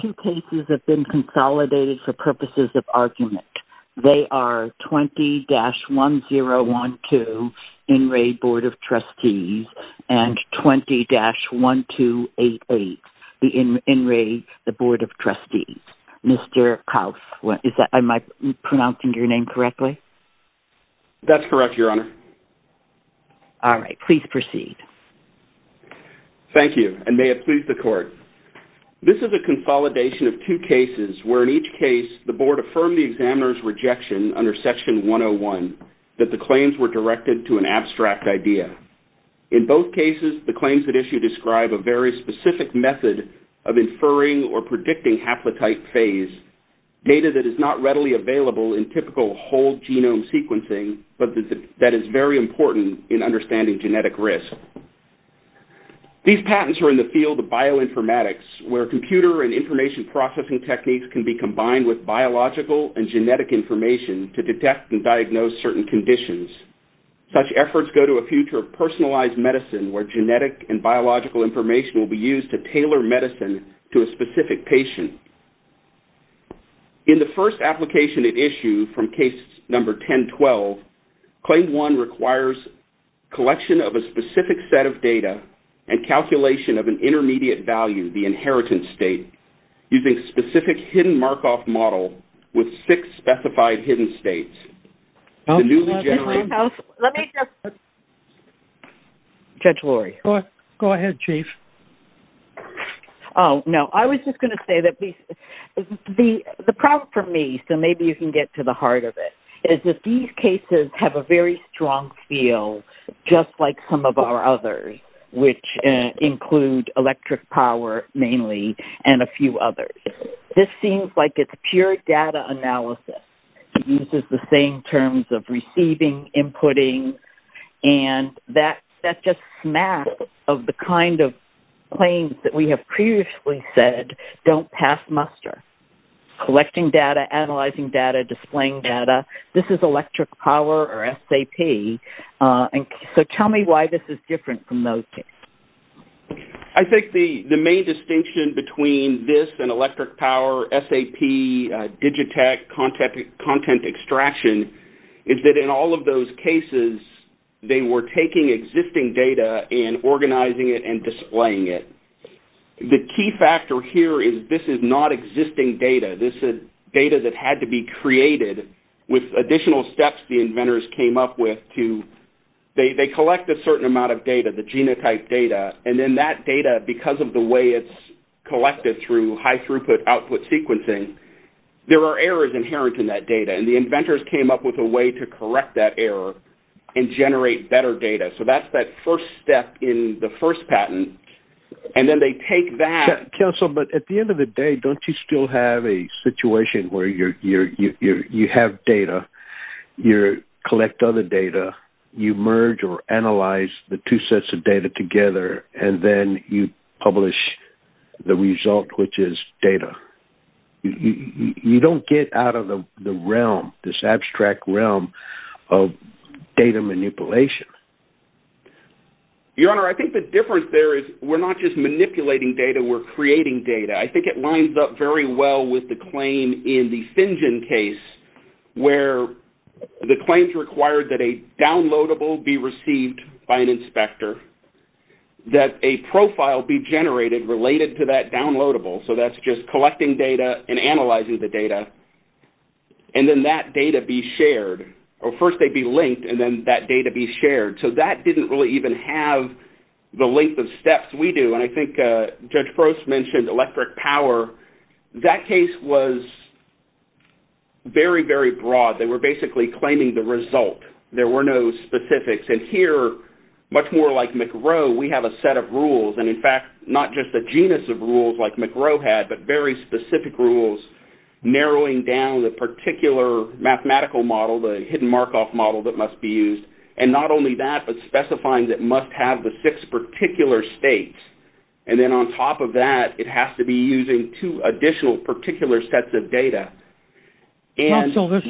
Two cases have been consolidated for purposes of argument. They are 20-1012 In Re The Board of Trustees and 20-1288 In Re The Board of Trustees. Mr. Kaus, am I pronouncing your name correctly? That's correct, Your Honor. All right, please proceed. Thank you, and may it please the Court. This is a consolidation of two cases where, in each case, the Board affirmed the examiner's rejection under Section 101 that the claims were directed to an abstract idea. In both cases, the claims at issue describe a very specific method of inferring or predicting haplotype phase, data that is not readily available in typical whole-genome sequencing but that is very important in understanding genetic risk. These patents are in the field of bioinformatics, where computer and information processing techniques can be combined with biological and genetic information to detect and diagnose certain conditions. Such efforts go to a future of personalized medicine, where genetic and biological information will be used to tailor medicine to a specific patient. In the first application at issue from case number 1012, Claim 1 requires collection of a specific set of data and calculation of an intermediate value, the inheritance state, using specific hidden Markov model with six specified hidden states. The newly generated... Judge Lori. Go ahead, Chief. Oh, no, I was just going to say that the problem for me, so maybe you can get to the heart of it, is that these cases have a very strong feel just like some of our others, which include electric power mainly and a few others. This seems like it's pure data analysis. It uses the same terms of receiving, inputting, and that's just a snap of the kind of claims that we have previously said don't pass muster. Collecting data, analyzing data, displaying data. This is electric power or SAP. So tell me why this is different from those cases. I think the main distinction between this and electric power, SAP, Digitech, content extraction, is that in all of those cases they were taking existing data and organizing it and displaying it. The key factor here is this is not existing data. This is data that had to be created with additional steps the inventors came up with to... They collect a certain amount of data, the genotype data, and then that data, because of the way it's collected through high throughput output sequencing, there are errors inherent in that data, and the inventors came up with a way to correct that error and generate better data. So that's that first step in the first patent, and then they take that... Counsel, but at the end of the day, don't you still have a situation where you have data, you collect other data, you merge or analyze the two sets of data together, and then you publish the result, which is data? You don't get out of the realm, this abstract realm of data manipulation. Your Honor, I think the difference there is we're not just manipulating data, we're creating data. I think it lines up very well with the claim in the Fingen case where the claims required that a downloadable be received by an inspector, that a profile be generated related to that downloadable, so that's just collecting data and analyzing the data, and then that data be shared, or first they'd be linked and then that data be shared. So that didn't really even have the length of steps we do, and I think Judge Frost mentioned electric power. That case was very, very broad. They were basically claiming the result. There were no specifics, and here, much more like McRow, we have a set of rules, and in fact, not just a genus of rules like McRow had, but very specific rules narrowing down the particular mathematical model, the hidden Markov model that must be used, and not only that, but specifying that it must have the six particular states, and then on top of that, it has to be using two additional particular sets of data. Counsel, this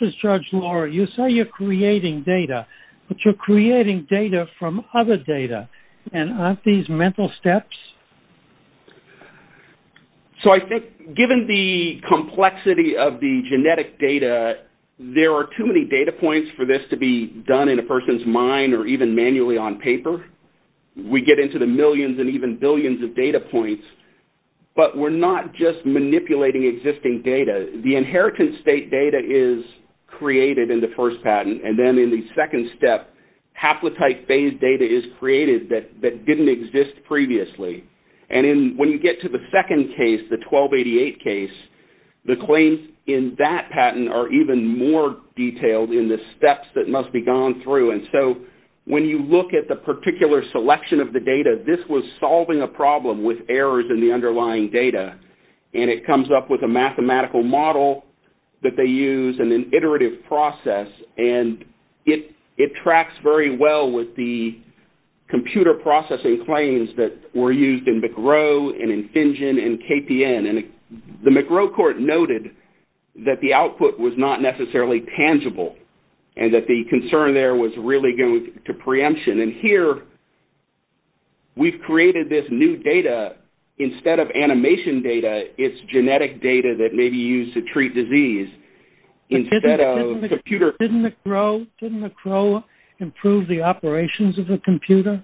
is Judge Laura. You say you're creating data, but you're creating data from other data, and aren't these mental steps? So I think given the complexity of the genetic data, there are too many data points for this to be done in a person's mind or even manually on paper. We get into the millions and even billions of data points, but we're not just manipulating existing data. The inheritance state data is created in the first patent, and then in the second step, haplotype phased data is created that didn't exist previously. And when you get to the second case, the 1288 case, the claims in that patent are even more detailed in the steps that must be gone through, and so when you look at the particular selection of the data, this was solving a problem with errors in the underlying data, and it comes up with a mathematical model that they use and an iterative process, and it tracks very well with the computer processing claims that were used in McRow and in FinGen and KPN, and the McRow court noted that the output was not necessarily tangible and that the concern there was really going to preemption, and here we've created this new data. Instead of animation data, it's genetic data that may be used to treat disease. Didn't McRow improve the operations of the computer?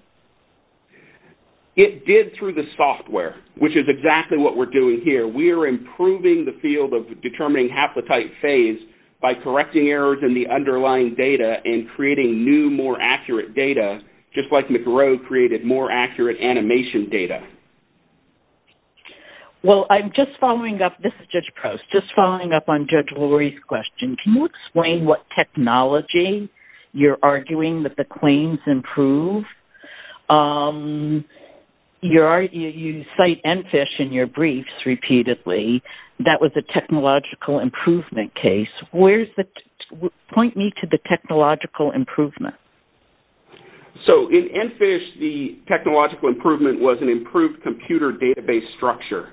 It did through the software, which is exactly what we're doing here. We are improving the field of determining haplotype phase by correcting errors in the underlying data and creating new, more accurate data, just like McRow created more accurate animation data. Well, I'm just following up. This is Judge Prowse. Just following up on Judge Lurie's question, can you explain what technology you're arguing that the claims improve? You cite EnFISH in your briefs repeatedly. That was a technological improvement case. Point me to the technological improvement. So in EnFISH, the technological improvement was an improved computer database structure,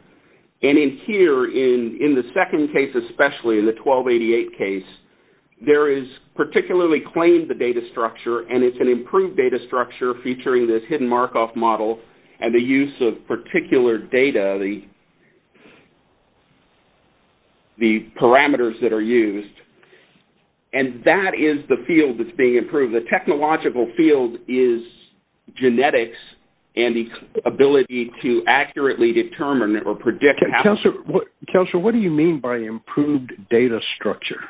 and in here, in the second case especially, in the 1288 case, there is particularly claimed the data structure, and it's an improved data structure featuring this hidden Markov model and the use of particular data, the parameters that are used, and that is the field that's being improved. The technological field is genetics and the ability to accurately determine or predict haplotype. Counselor, what do you mean by improved data structure?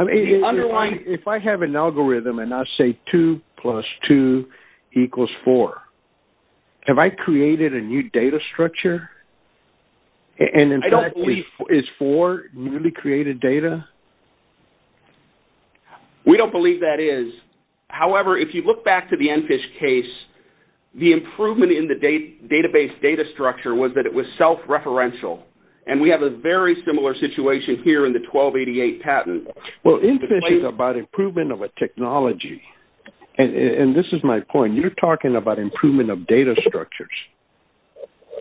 If I have an algorithm and I say 2 plus 2 equals 4, have I created a new data structure? I don't believe... Is 4 newly created data? We don't believe that is. However, if you look back to the EnFISH case, the improvement in the database data structure was that it was self-referential, and we have a very similar situation here in the 1288 patent. Well, EnFISH is about improvement of a technology, and this is my point. You're talking about improvement of data structures.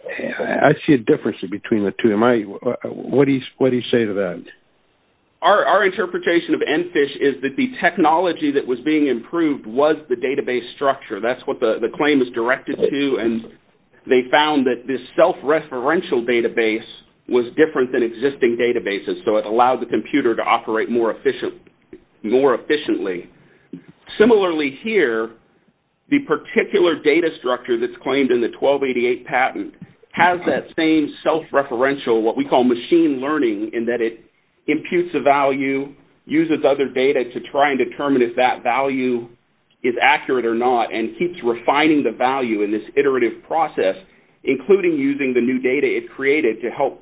I see a difference between the two. What do you say to that? Our interpretation of EnFISH is that the technology that was being improved was the database structure. That's what the claim is directed to, and they found that this self-referential database was different than existing databases, so it allowed the computer to operate more efficiently. Similarly here, the particular data structure that's claimed in the 1288 patent has that same self-referential, what we call machine learning, in that it imputes a value, uses other data to try and determine if that value is accurate or not, and keeps refining the value in this iterative process, including using the new data it created to help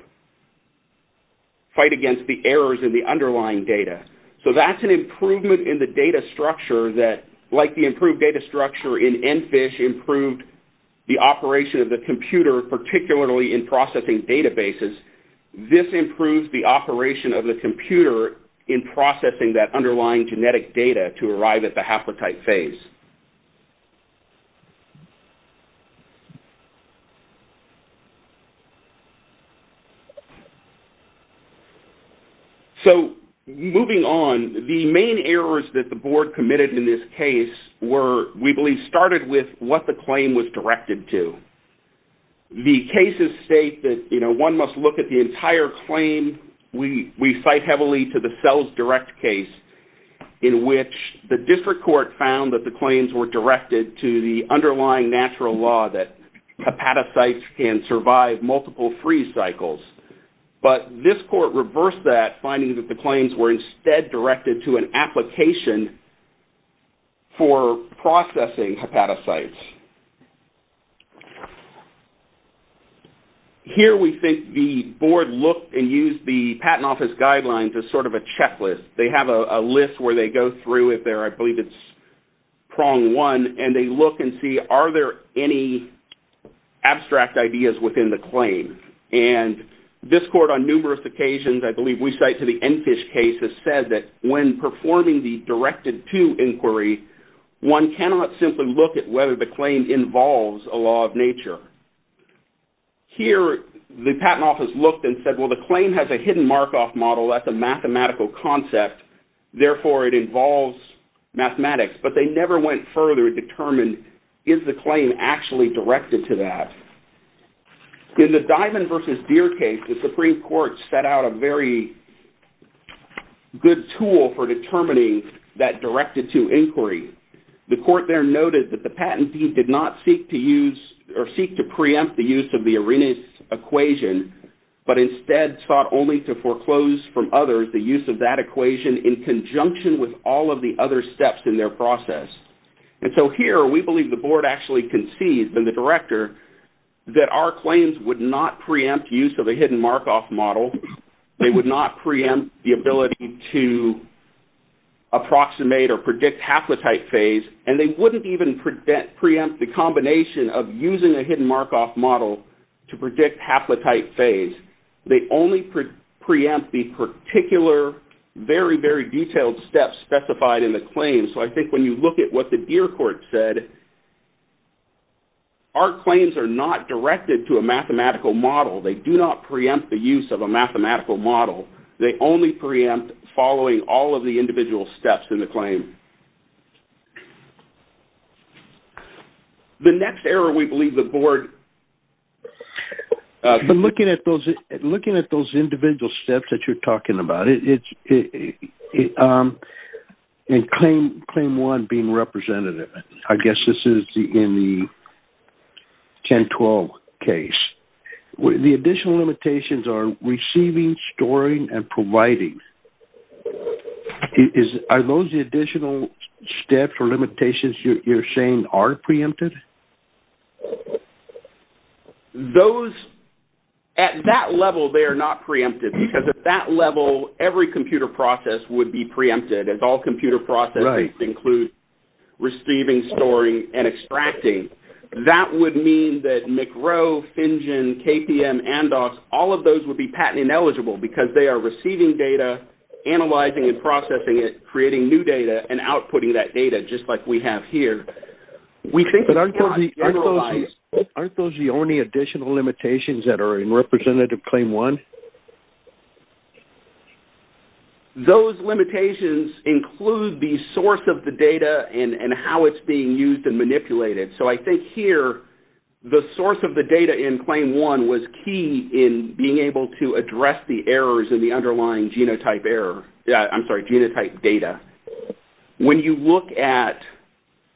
fight against the errors in the underlying data. So that's an improvement in the data structure that, like the improved data structure in EnFISH, improved the operation of the computer, particularly in processing databases. This improves the operation of the computer in processing that underlying genetic data to arrive at the haplotype phase. So moving on, the main errors that the board committed in this case were, we believe, started with what the claim was directed to. The cases state that, you know, one must look at the entire claim. We cite heavily to the CellsDirect case, in which the district court found that the claims were directed to the underlying natural law that hepatocytes can survive multiple freeze cycles. But this court reversed that, finding that the claims were instead directed to an application for processing hepatocytes. Here we think the board looked and used the patent office guidelines as sort of a checklist. They have a list where they go through it. I believe it's prong one. And they look and see, are there any abstract ideas within the claim? And this court, on numerous occasions, I believe we cite to the EnFISH case, has said that when performing the directed-to inquiry, one cannot simply look at whether the claim involves a law of nature. Here, the patent office looked and said, well, the claim has a hidden Markov model. That's a mathematical concept. Therefore, it involves mathematics. But they never went further to determine, is the claim actually directed to that? In the Diamond v. Deer case, the Supreme Court set out a very good tool for determining that directed-to inquiry. The court there noted that the patentee did not seek to use or seek to preempt the use of the Arrhenius equation, but instead sought only to foreclose from others the use of that equation in conjunction with all of the other steps in their process. And so here, we believe the board actually concedes, and the director, that our claims would not preempt use of a hidden Markov model. They would not preempt the ability to approximate or predict haplotype phase. And they wouldn't even preempt the combination of using a hidden Markov model to predict haplotype phase. They only preempt the particular, very, very detailed steps specified in the claim. So I think when you look at what the Deer court said, our claims are not directed to a mathematical model. They do not preempt the use of a mathematical model. They only preempt following all of the individual steps in the claim. The next error we believe the board... Looking at those individual steps that you're talking about, and claim one being representative, I guess this is in the 1012 case, the additional limitations are receiving, storing, and providing. Are those the additional steps or limitations you're saying are preempted? Those, at that level, they are not preempted, because at that level, every computer process would be preempted, as all computer processes include receiving, storing, and extracting. That would mean that McRow, FinGen, KPM, and all of those would be patent-ineligible, because they are receiving data, analyzing and processing it, creating new data, and outputting that data, just like we have here. Aren't those the only additional limitations that are in representative claim one? Those limitations include the source of the data and how it's being used and manipulated. So I think here, the source of the data in claim one was key in being able to address the errors in the underlying genotype data. When you look at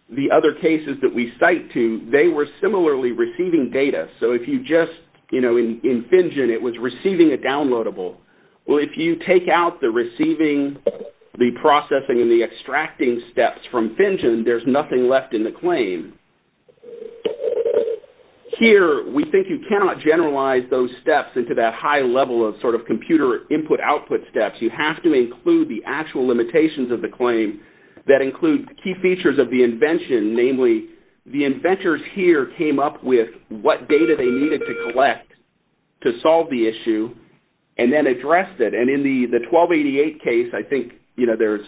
the other cases that we cite to, they were similarly receiving data. So if you just, you know, in FinGen, it was receiving a downloadable. Well, if you take out the receiving, the processing, and the extracting steps from FinGen, there's nothing left in the claim. Here, we think you cannot generalize those steps into that high level of sort of computer input-output steps. You have to include the actual limitations of the claim that include key features of the invention. Namely, the inventors here came up with what data they needed to collect to solve the issue and then addressed it. And in the 1288 case, I think, you know, there's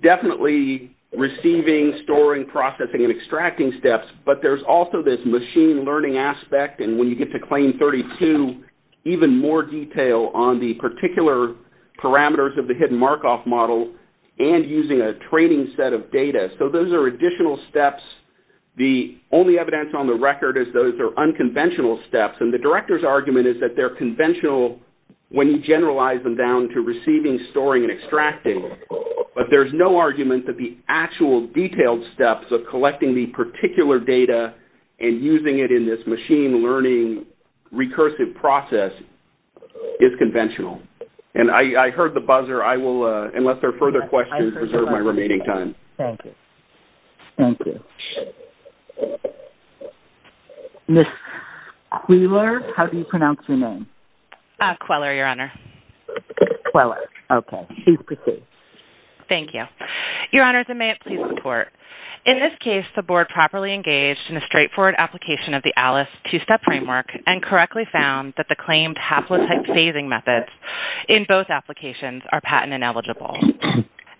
definitely receiving, storing, processing, and extracting steps, but there's also this machine learning aspect, and when you get to claim 32, even more detail on the particular parameters of the hidden Markov model and using a training set of data. So those are additional steps. The only evidence on the record is those are unconventional steps, and the director's argument is that they're conventional when you generalize them down to receiving, storing, and extracting, but there's no argument that the actual detailed steps of collecting the particular data and using it in this machine learning recursive process is conventional. And I heard the buzzer. I will, unless there are further questions, preserve my remaining time. Thank you. Thank you. Ms. Queeler, how do you pronounce your name? Queeler, Your Honor. Queeler. Okay. Please proceed. Thank you. Your Honors, and may it please the Court. In this case, the Board properly engaged in a straightforward application of the ALICE two-step framework and correctly found that the claimed haplotype phasing methods in both applications are patent ineligible.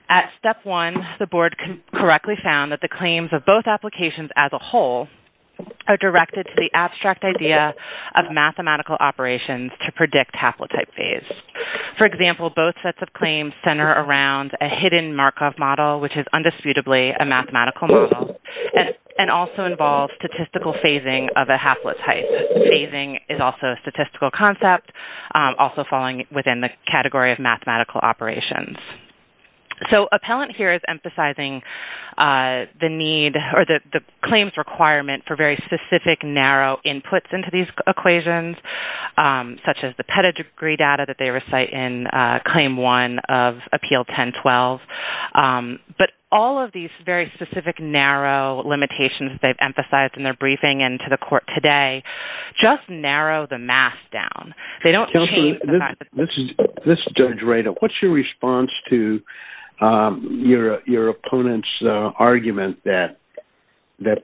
At step one, the Board correctly found that the claims of both applications as a whole are directed to the abstract idea of mathematical operations to predict haplotype phase. For example, both sets of claims center around a hidden Markov model, which is undisputably a mathematical model, and also involves statistical phasing of a haplotype. Phasing is also a statistical concept, also falling within the category of mathematical operations. So appellant here is emphasizing the need or the claims requirement for very specific, narrow inputs into these equations, such as the pedigree data that they recite in Claim 1 of Appeal 1012. But all of these very specific, narrow limitations that they've emphasized in their briefing and to the Court today just narrow the math down. They don't change the fact that... Counselor, let's judge right. What's your response to your opponent's argument that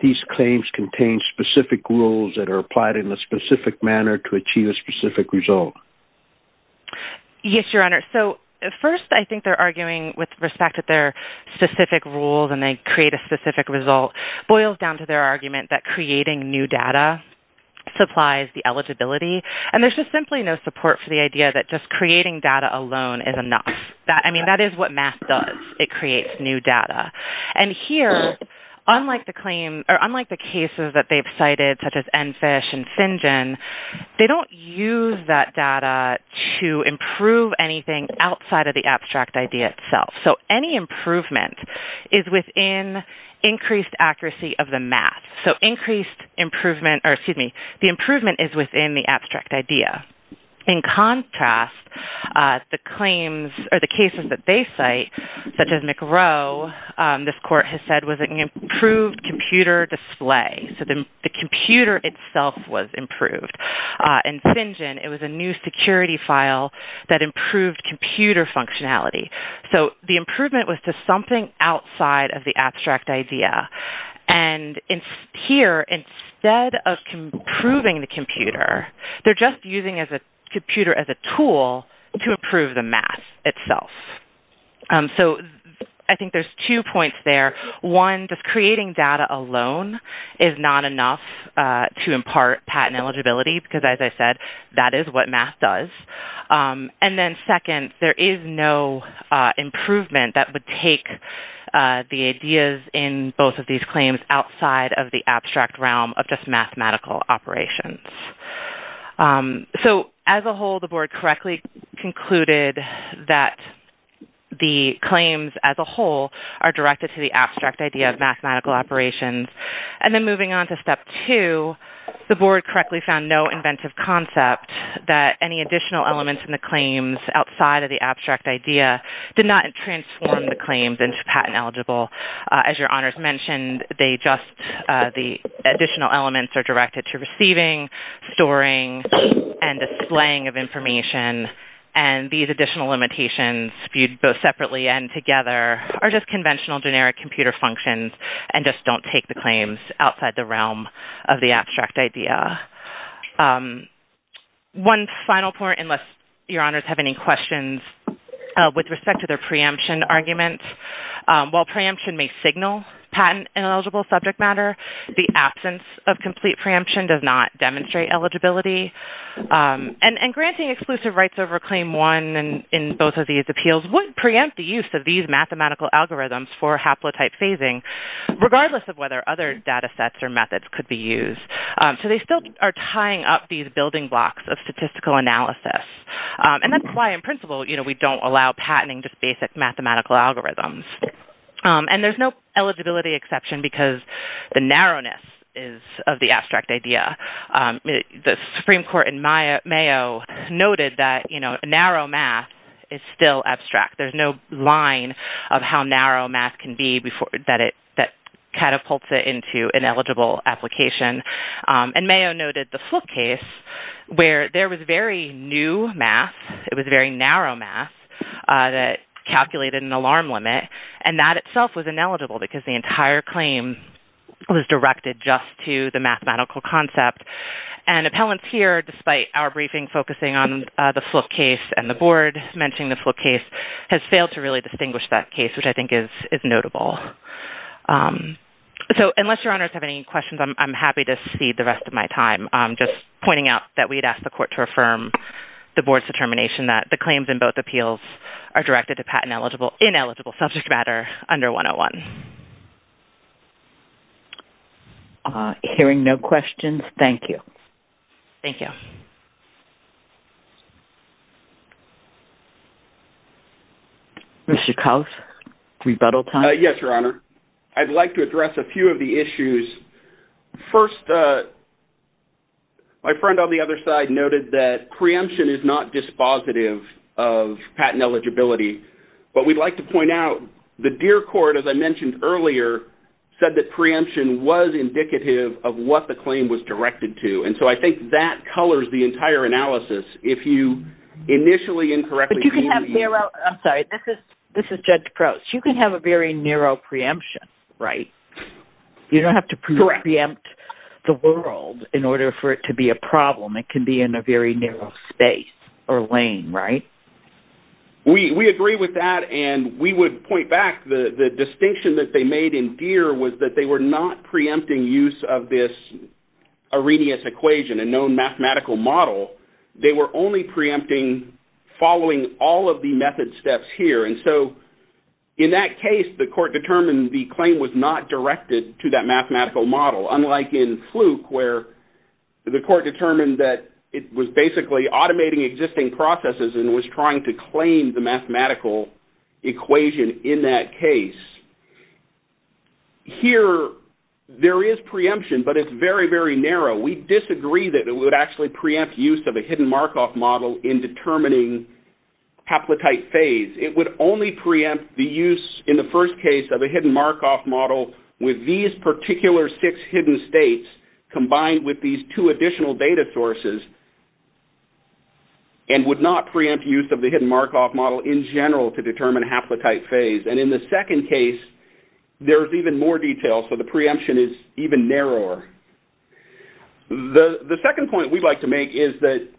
these claims contain specific rules that are applied in a specific manner to achieve a specific result? Yes, Your Honor. So first, I think they're arguing with respect to their specific rules and they create a specific result boils down to their argument that creating new data supplies the eligibility. And there's just simply no support for the idea that just creating data alone is enough. I mean, that is what math does. It creates new data. And here, unlike the claim... or unlike the cases that they've cited, such as Enfish and Fingen, they don't use that data to improve anything outside of the abstract idea itself. So any improvement is within increased accuracy of the math. So increased improvement... or excuse me, the improvement is within the abstract idea. In contrast, the claims or the cases that they cite, such as McRow, this court has said, was an improved computer display. So the computer itself was improved. In Fingen, it was a new security file that improved computer functionality. So the improvement was to something outside of the abstract idea. And here, instead of improving the computer, they're just using the computer as a tool to improve the math itself. So I think there's two points there. One, just creating data alone is not enough to impart patent eligibility, because as I said, that is what math does. And then second, there is no improvement that would take the ideas in both of these claims outside of the abstract realm of just mathematical operations. So as a whole, the board correctly concluded that the claims as a whole are directed to the abstract idea of mathematical operations. And then moving on to step two, the board correctly found no inventive concept that any additional elements in the claims outside of the abstract idea did not transform the claims into patent eligible. As your honors mentioned, they just... the additional elements are directed to receiving, storing, and displaying of information. And these additional limitations, viewed both separately and together, are just conventional generic computer functions and just don't take the claims outside the realm of the abstract idea. One final point, unless your honors have any questions with respect to their preemption argument. While preemption may signal patent ineligible subject matter, the absence of complete preemption does not demonstrate eligibility. And granting exclusive rights over claim one in both of these appeals would preempt the use of these mathematical algorithms for haplotype phasing, regardless of whether other data sets or methods could be used. So they still are tying up these building blocks of statistical analysis. And that's why, in principle, we don't allow patenting just basic mathematical algorithms. And there's no eligibility exception because the narrowness is of the abstract idea. The Supreme Court in Mayo noted that narrow math is still abstract. There's no line of how narrow math can be that catapults it into ineligible application. And Mayo noted the Fluke case, where there was very new math, it was very narrow math, that calculated an alarm limit, and that itself was ineligible because the entire claim was directed just to the mathematical concept. And appellants here, despite our briefing focusing on the Fluke case and the Board mentioning the Fluke case, have failed to really distinguish that case, which I think is notable. So unless Your Honors have any questions, I'm happy to cede the rest of my time, just pointing out that we'd ask the Court to affirm the Board's determination that the claims in both appeals are directed to patent-ineligible subject matter under 101. Hearing no questions, thank you. Thank you. Mr. Couse, rebuttal time? Yes, Your Honor. I'd like to address a few of the issues. First, my friend on the other side noted that preemption is not dispositive of patent eligibility. But we'd like to point out, the Deer Court, as I mentioned earlier, said that preemption was indicative of what the claim was directed to. And so I think that colors the entire analysis. If you initially incorrectly... But you can have narrow... I'm sorry, this is Judge Crouch. You can have a very narrow preemption, right? Correct. You don't have to preempt the world in order for it to be a problem. It can be in a very narrow space or lane, right? We agree with that, and we would point back the distinction that they made in Deer was that they were not preempting use of this Arrhenius equation, a known mathematical model. They were only preempting following all of the method steps here. And so in that case, the court determined the claim was not directed to that mathematical model, unlike in Fluke, where the court determined that it was basically automating existing processes and was trying to claim the mathematical equation in that case. Here, there is preemption, but it's very, very narrow. We disagree that it would actually preempt use of a hidden Markov model in determining haplotype phase. It would only preempt the use, in the first case, of a hidden Markov model with these particular six hidden states combined with these two additional data sources and would not preempt use of the hidden Markov model in general to determine haplotype phase. And in the second case, there's even more detail, so the preemption is even narrower. The second point we'd like to make is that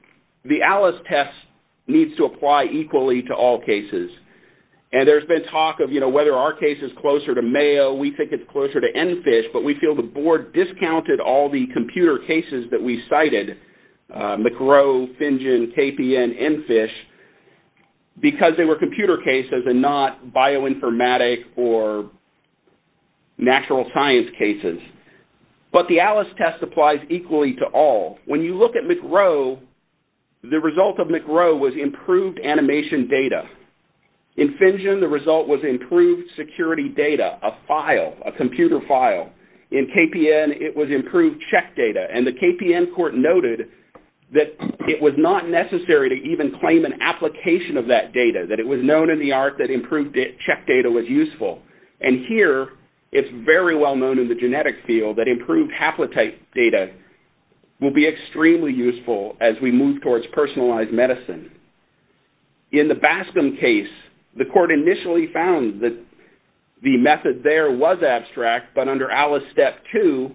the ALICE test needs to apply equally to all cases. And there's been talk of, you know, whether our case is closer to Mayo, we think it's closer to EnFish, but we feel the board discounted all the computer cases that we cited, McRow, FinGen, KPN, EnFish, because they were computer cases and not bioinformatic or natural science cases. But the ALICE test applies equally to all. When you look at McRow, the result of McRow was improved animation data. In FinGen, the result was improved security data, a file, a computer file. In KPN, it was improved check data. And the KPN court noted that it was not necessary to even claim an application of that data, that it was known in the art that improved check data was useful. And here, it's very well known in the genetic field that improved haplotype data will be extremely useful as we move towards personalized medicine. In the Bascom case, the court initially found that the method there was abstract, but under ALICE Step 2,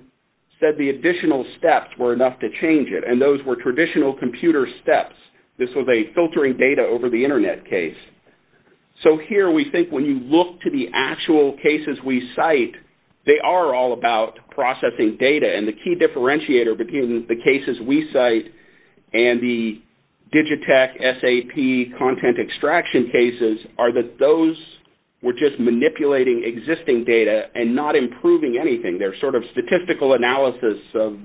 said the additional steps were enough to change it. And those were traditional computer steps. This was a filtering data over the internet case. So here, we think when you look to the actual cases we cite, they are all about processing data. And the key differentiator between the cases we cite and the Digitech SAP content extraction cases are that those were just manipulating existing data and not improving anything. They're sort of statistical analysis of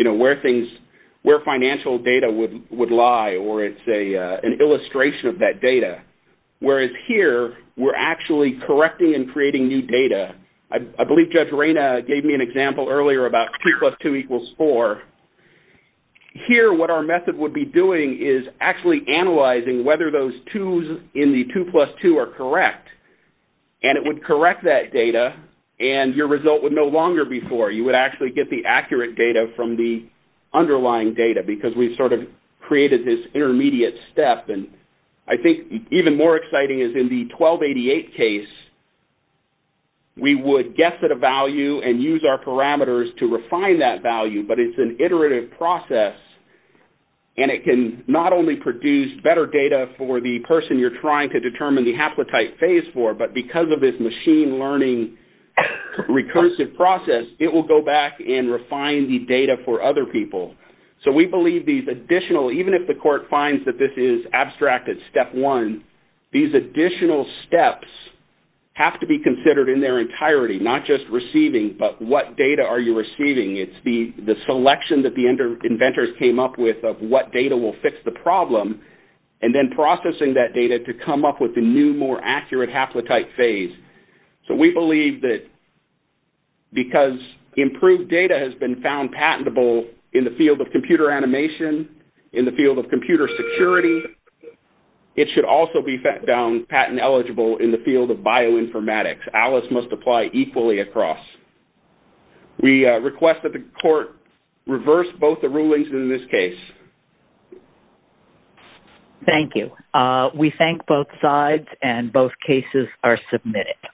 where financial data would lie, or it's an illustration of that data. Whereas here, we're actually correcting and creating new data. I believe Judge Reyna gave me an example earlier about 2 plus 2 equals 4. Here, what our method would be doing is actually analyzing whether those twos in the 2 plus 2 are correct. And it would correct that data, and your result would no longer be 4. You would actually get the accurate data from the underlying data because we've sort of created this intermediate step. And I think even more exciting is in the 1288 case, we would guess at a value and use our parameters to refine that value. But it's an iterative process, and it can not only produce better data for the person you're trying to determine the haplotype phase for, but because of this machine learning recursive process, it will go back and refine the data for other people. So we believe these additional, even if the court finds that this is abstracted step one, these additional steps have to be considered in their entirety, not just receiving, but what data are you receiving? It's the selection that the inventors came up with of what data will fix the problem, and then processing that data to come up with a new, more accurate haplotype phase. So we believe that because improved data has been found patentable in the field of computer animation, in the field of computer security, it should also be found patent eligible in the field of bioinformatics. Alice must apply equally across. We request that the court reverse both the rulings in this case. Thank you. We thank both sides, and both cases are submitted.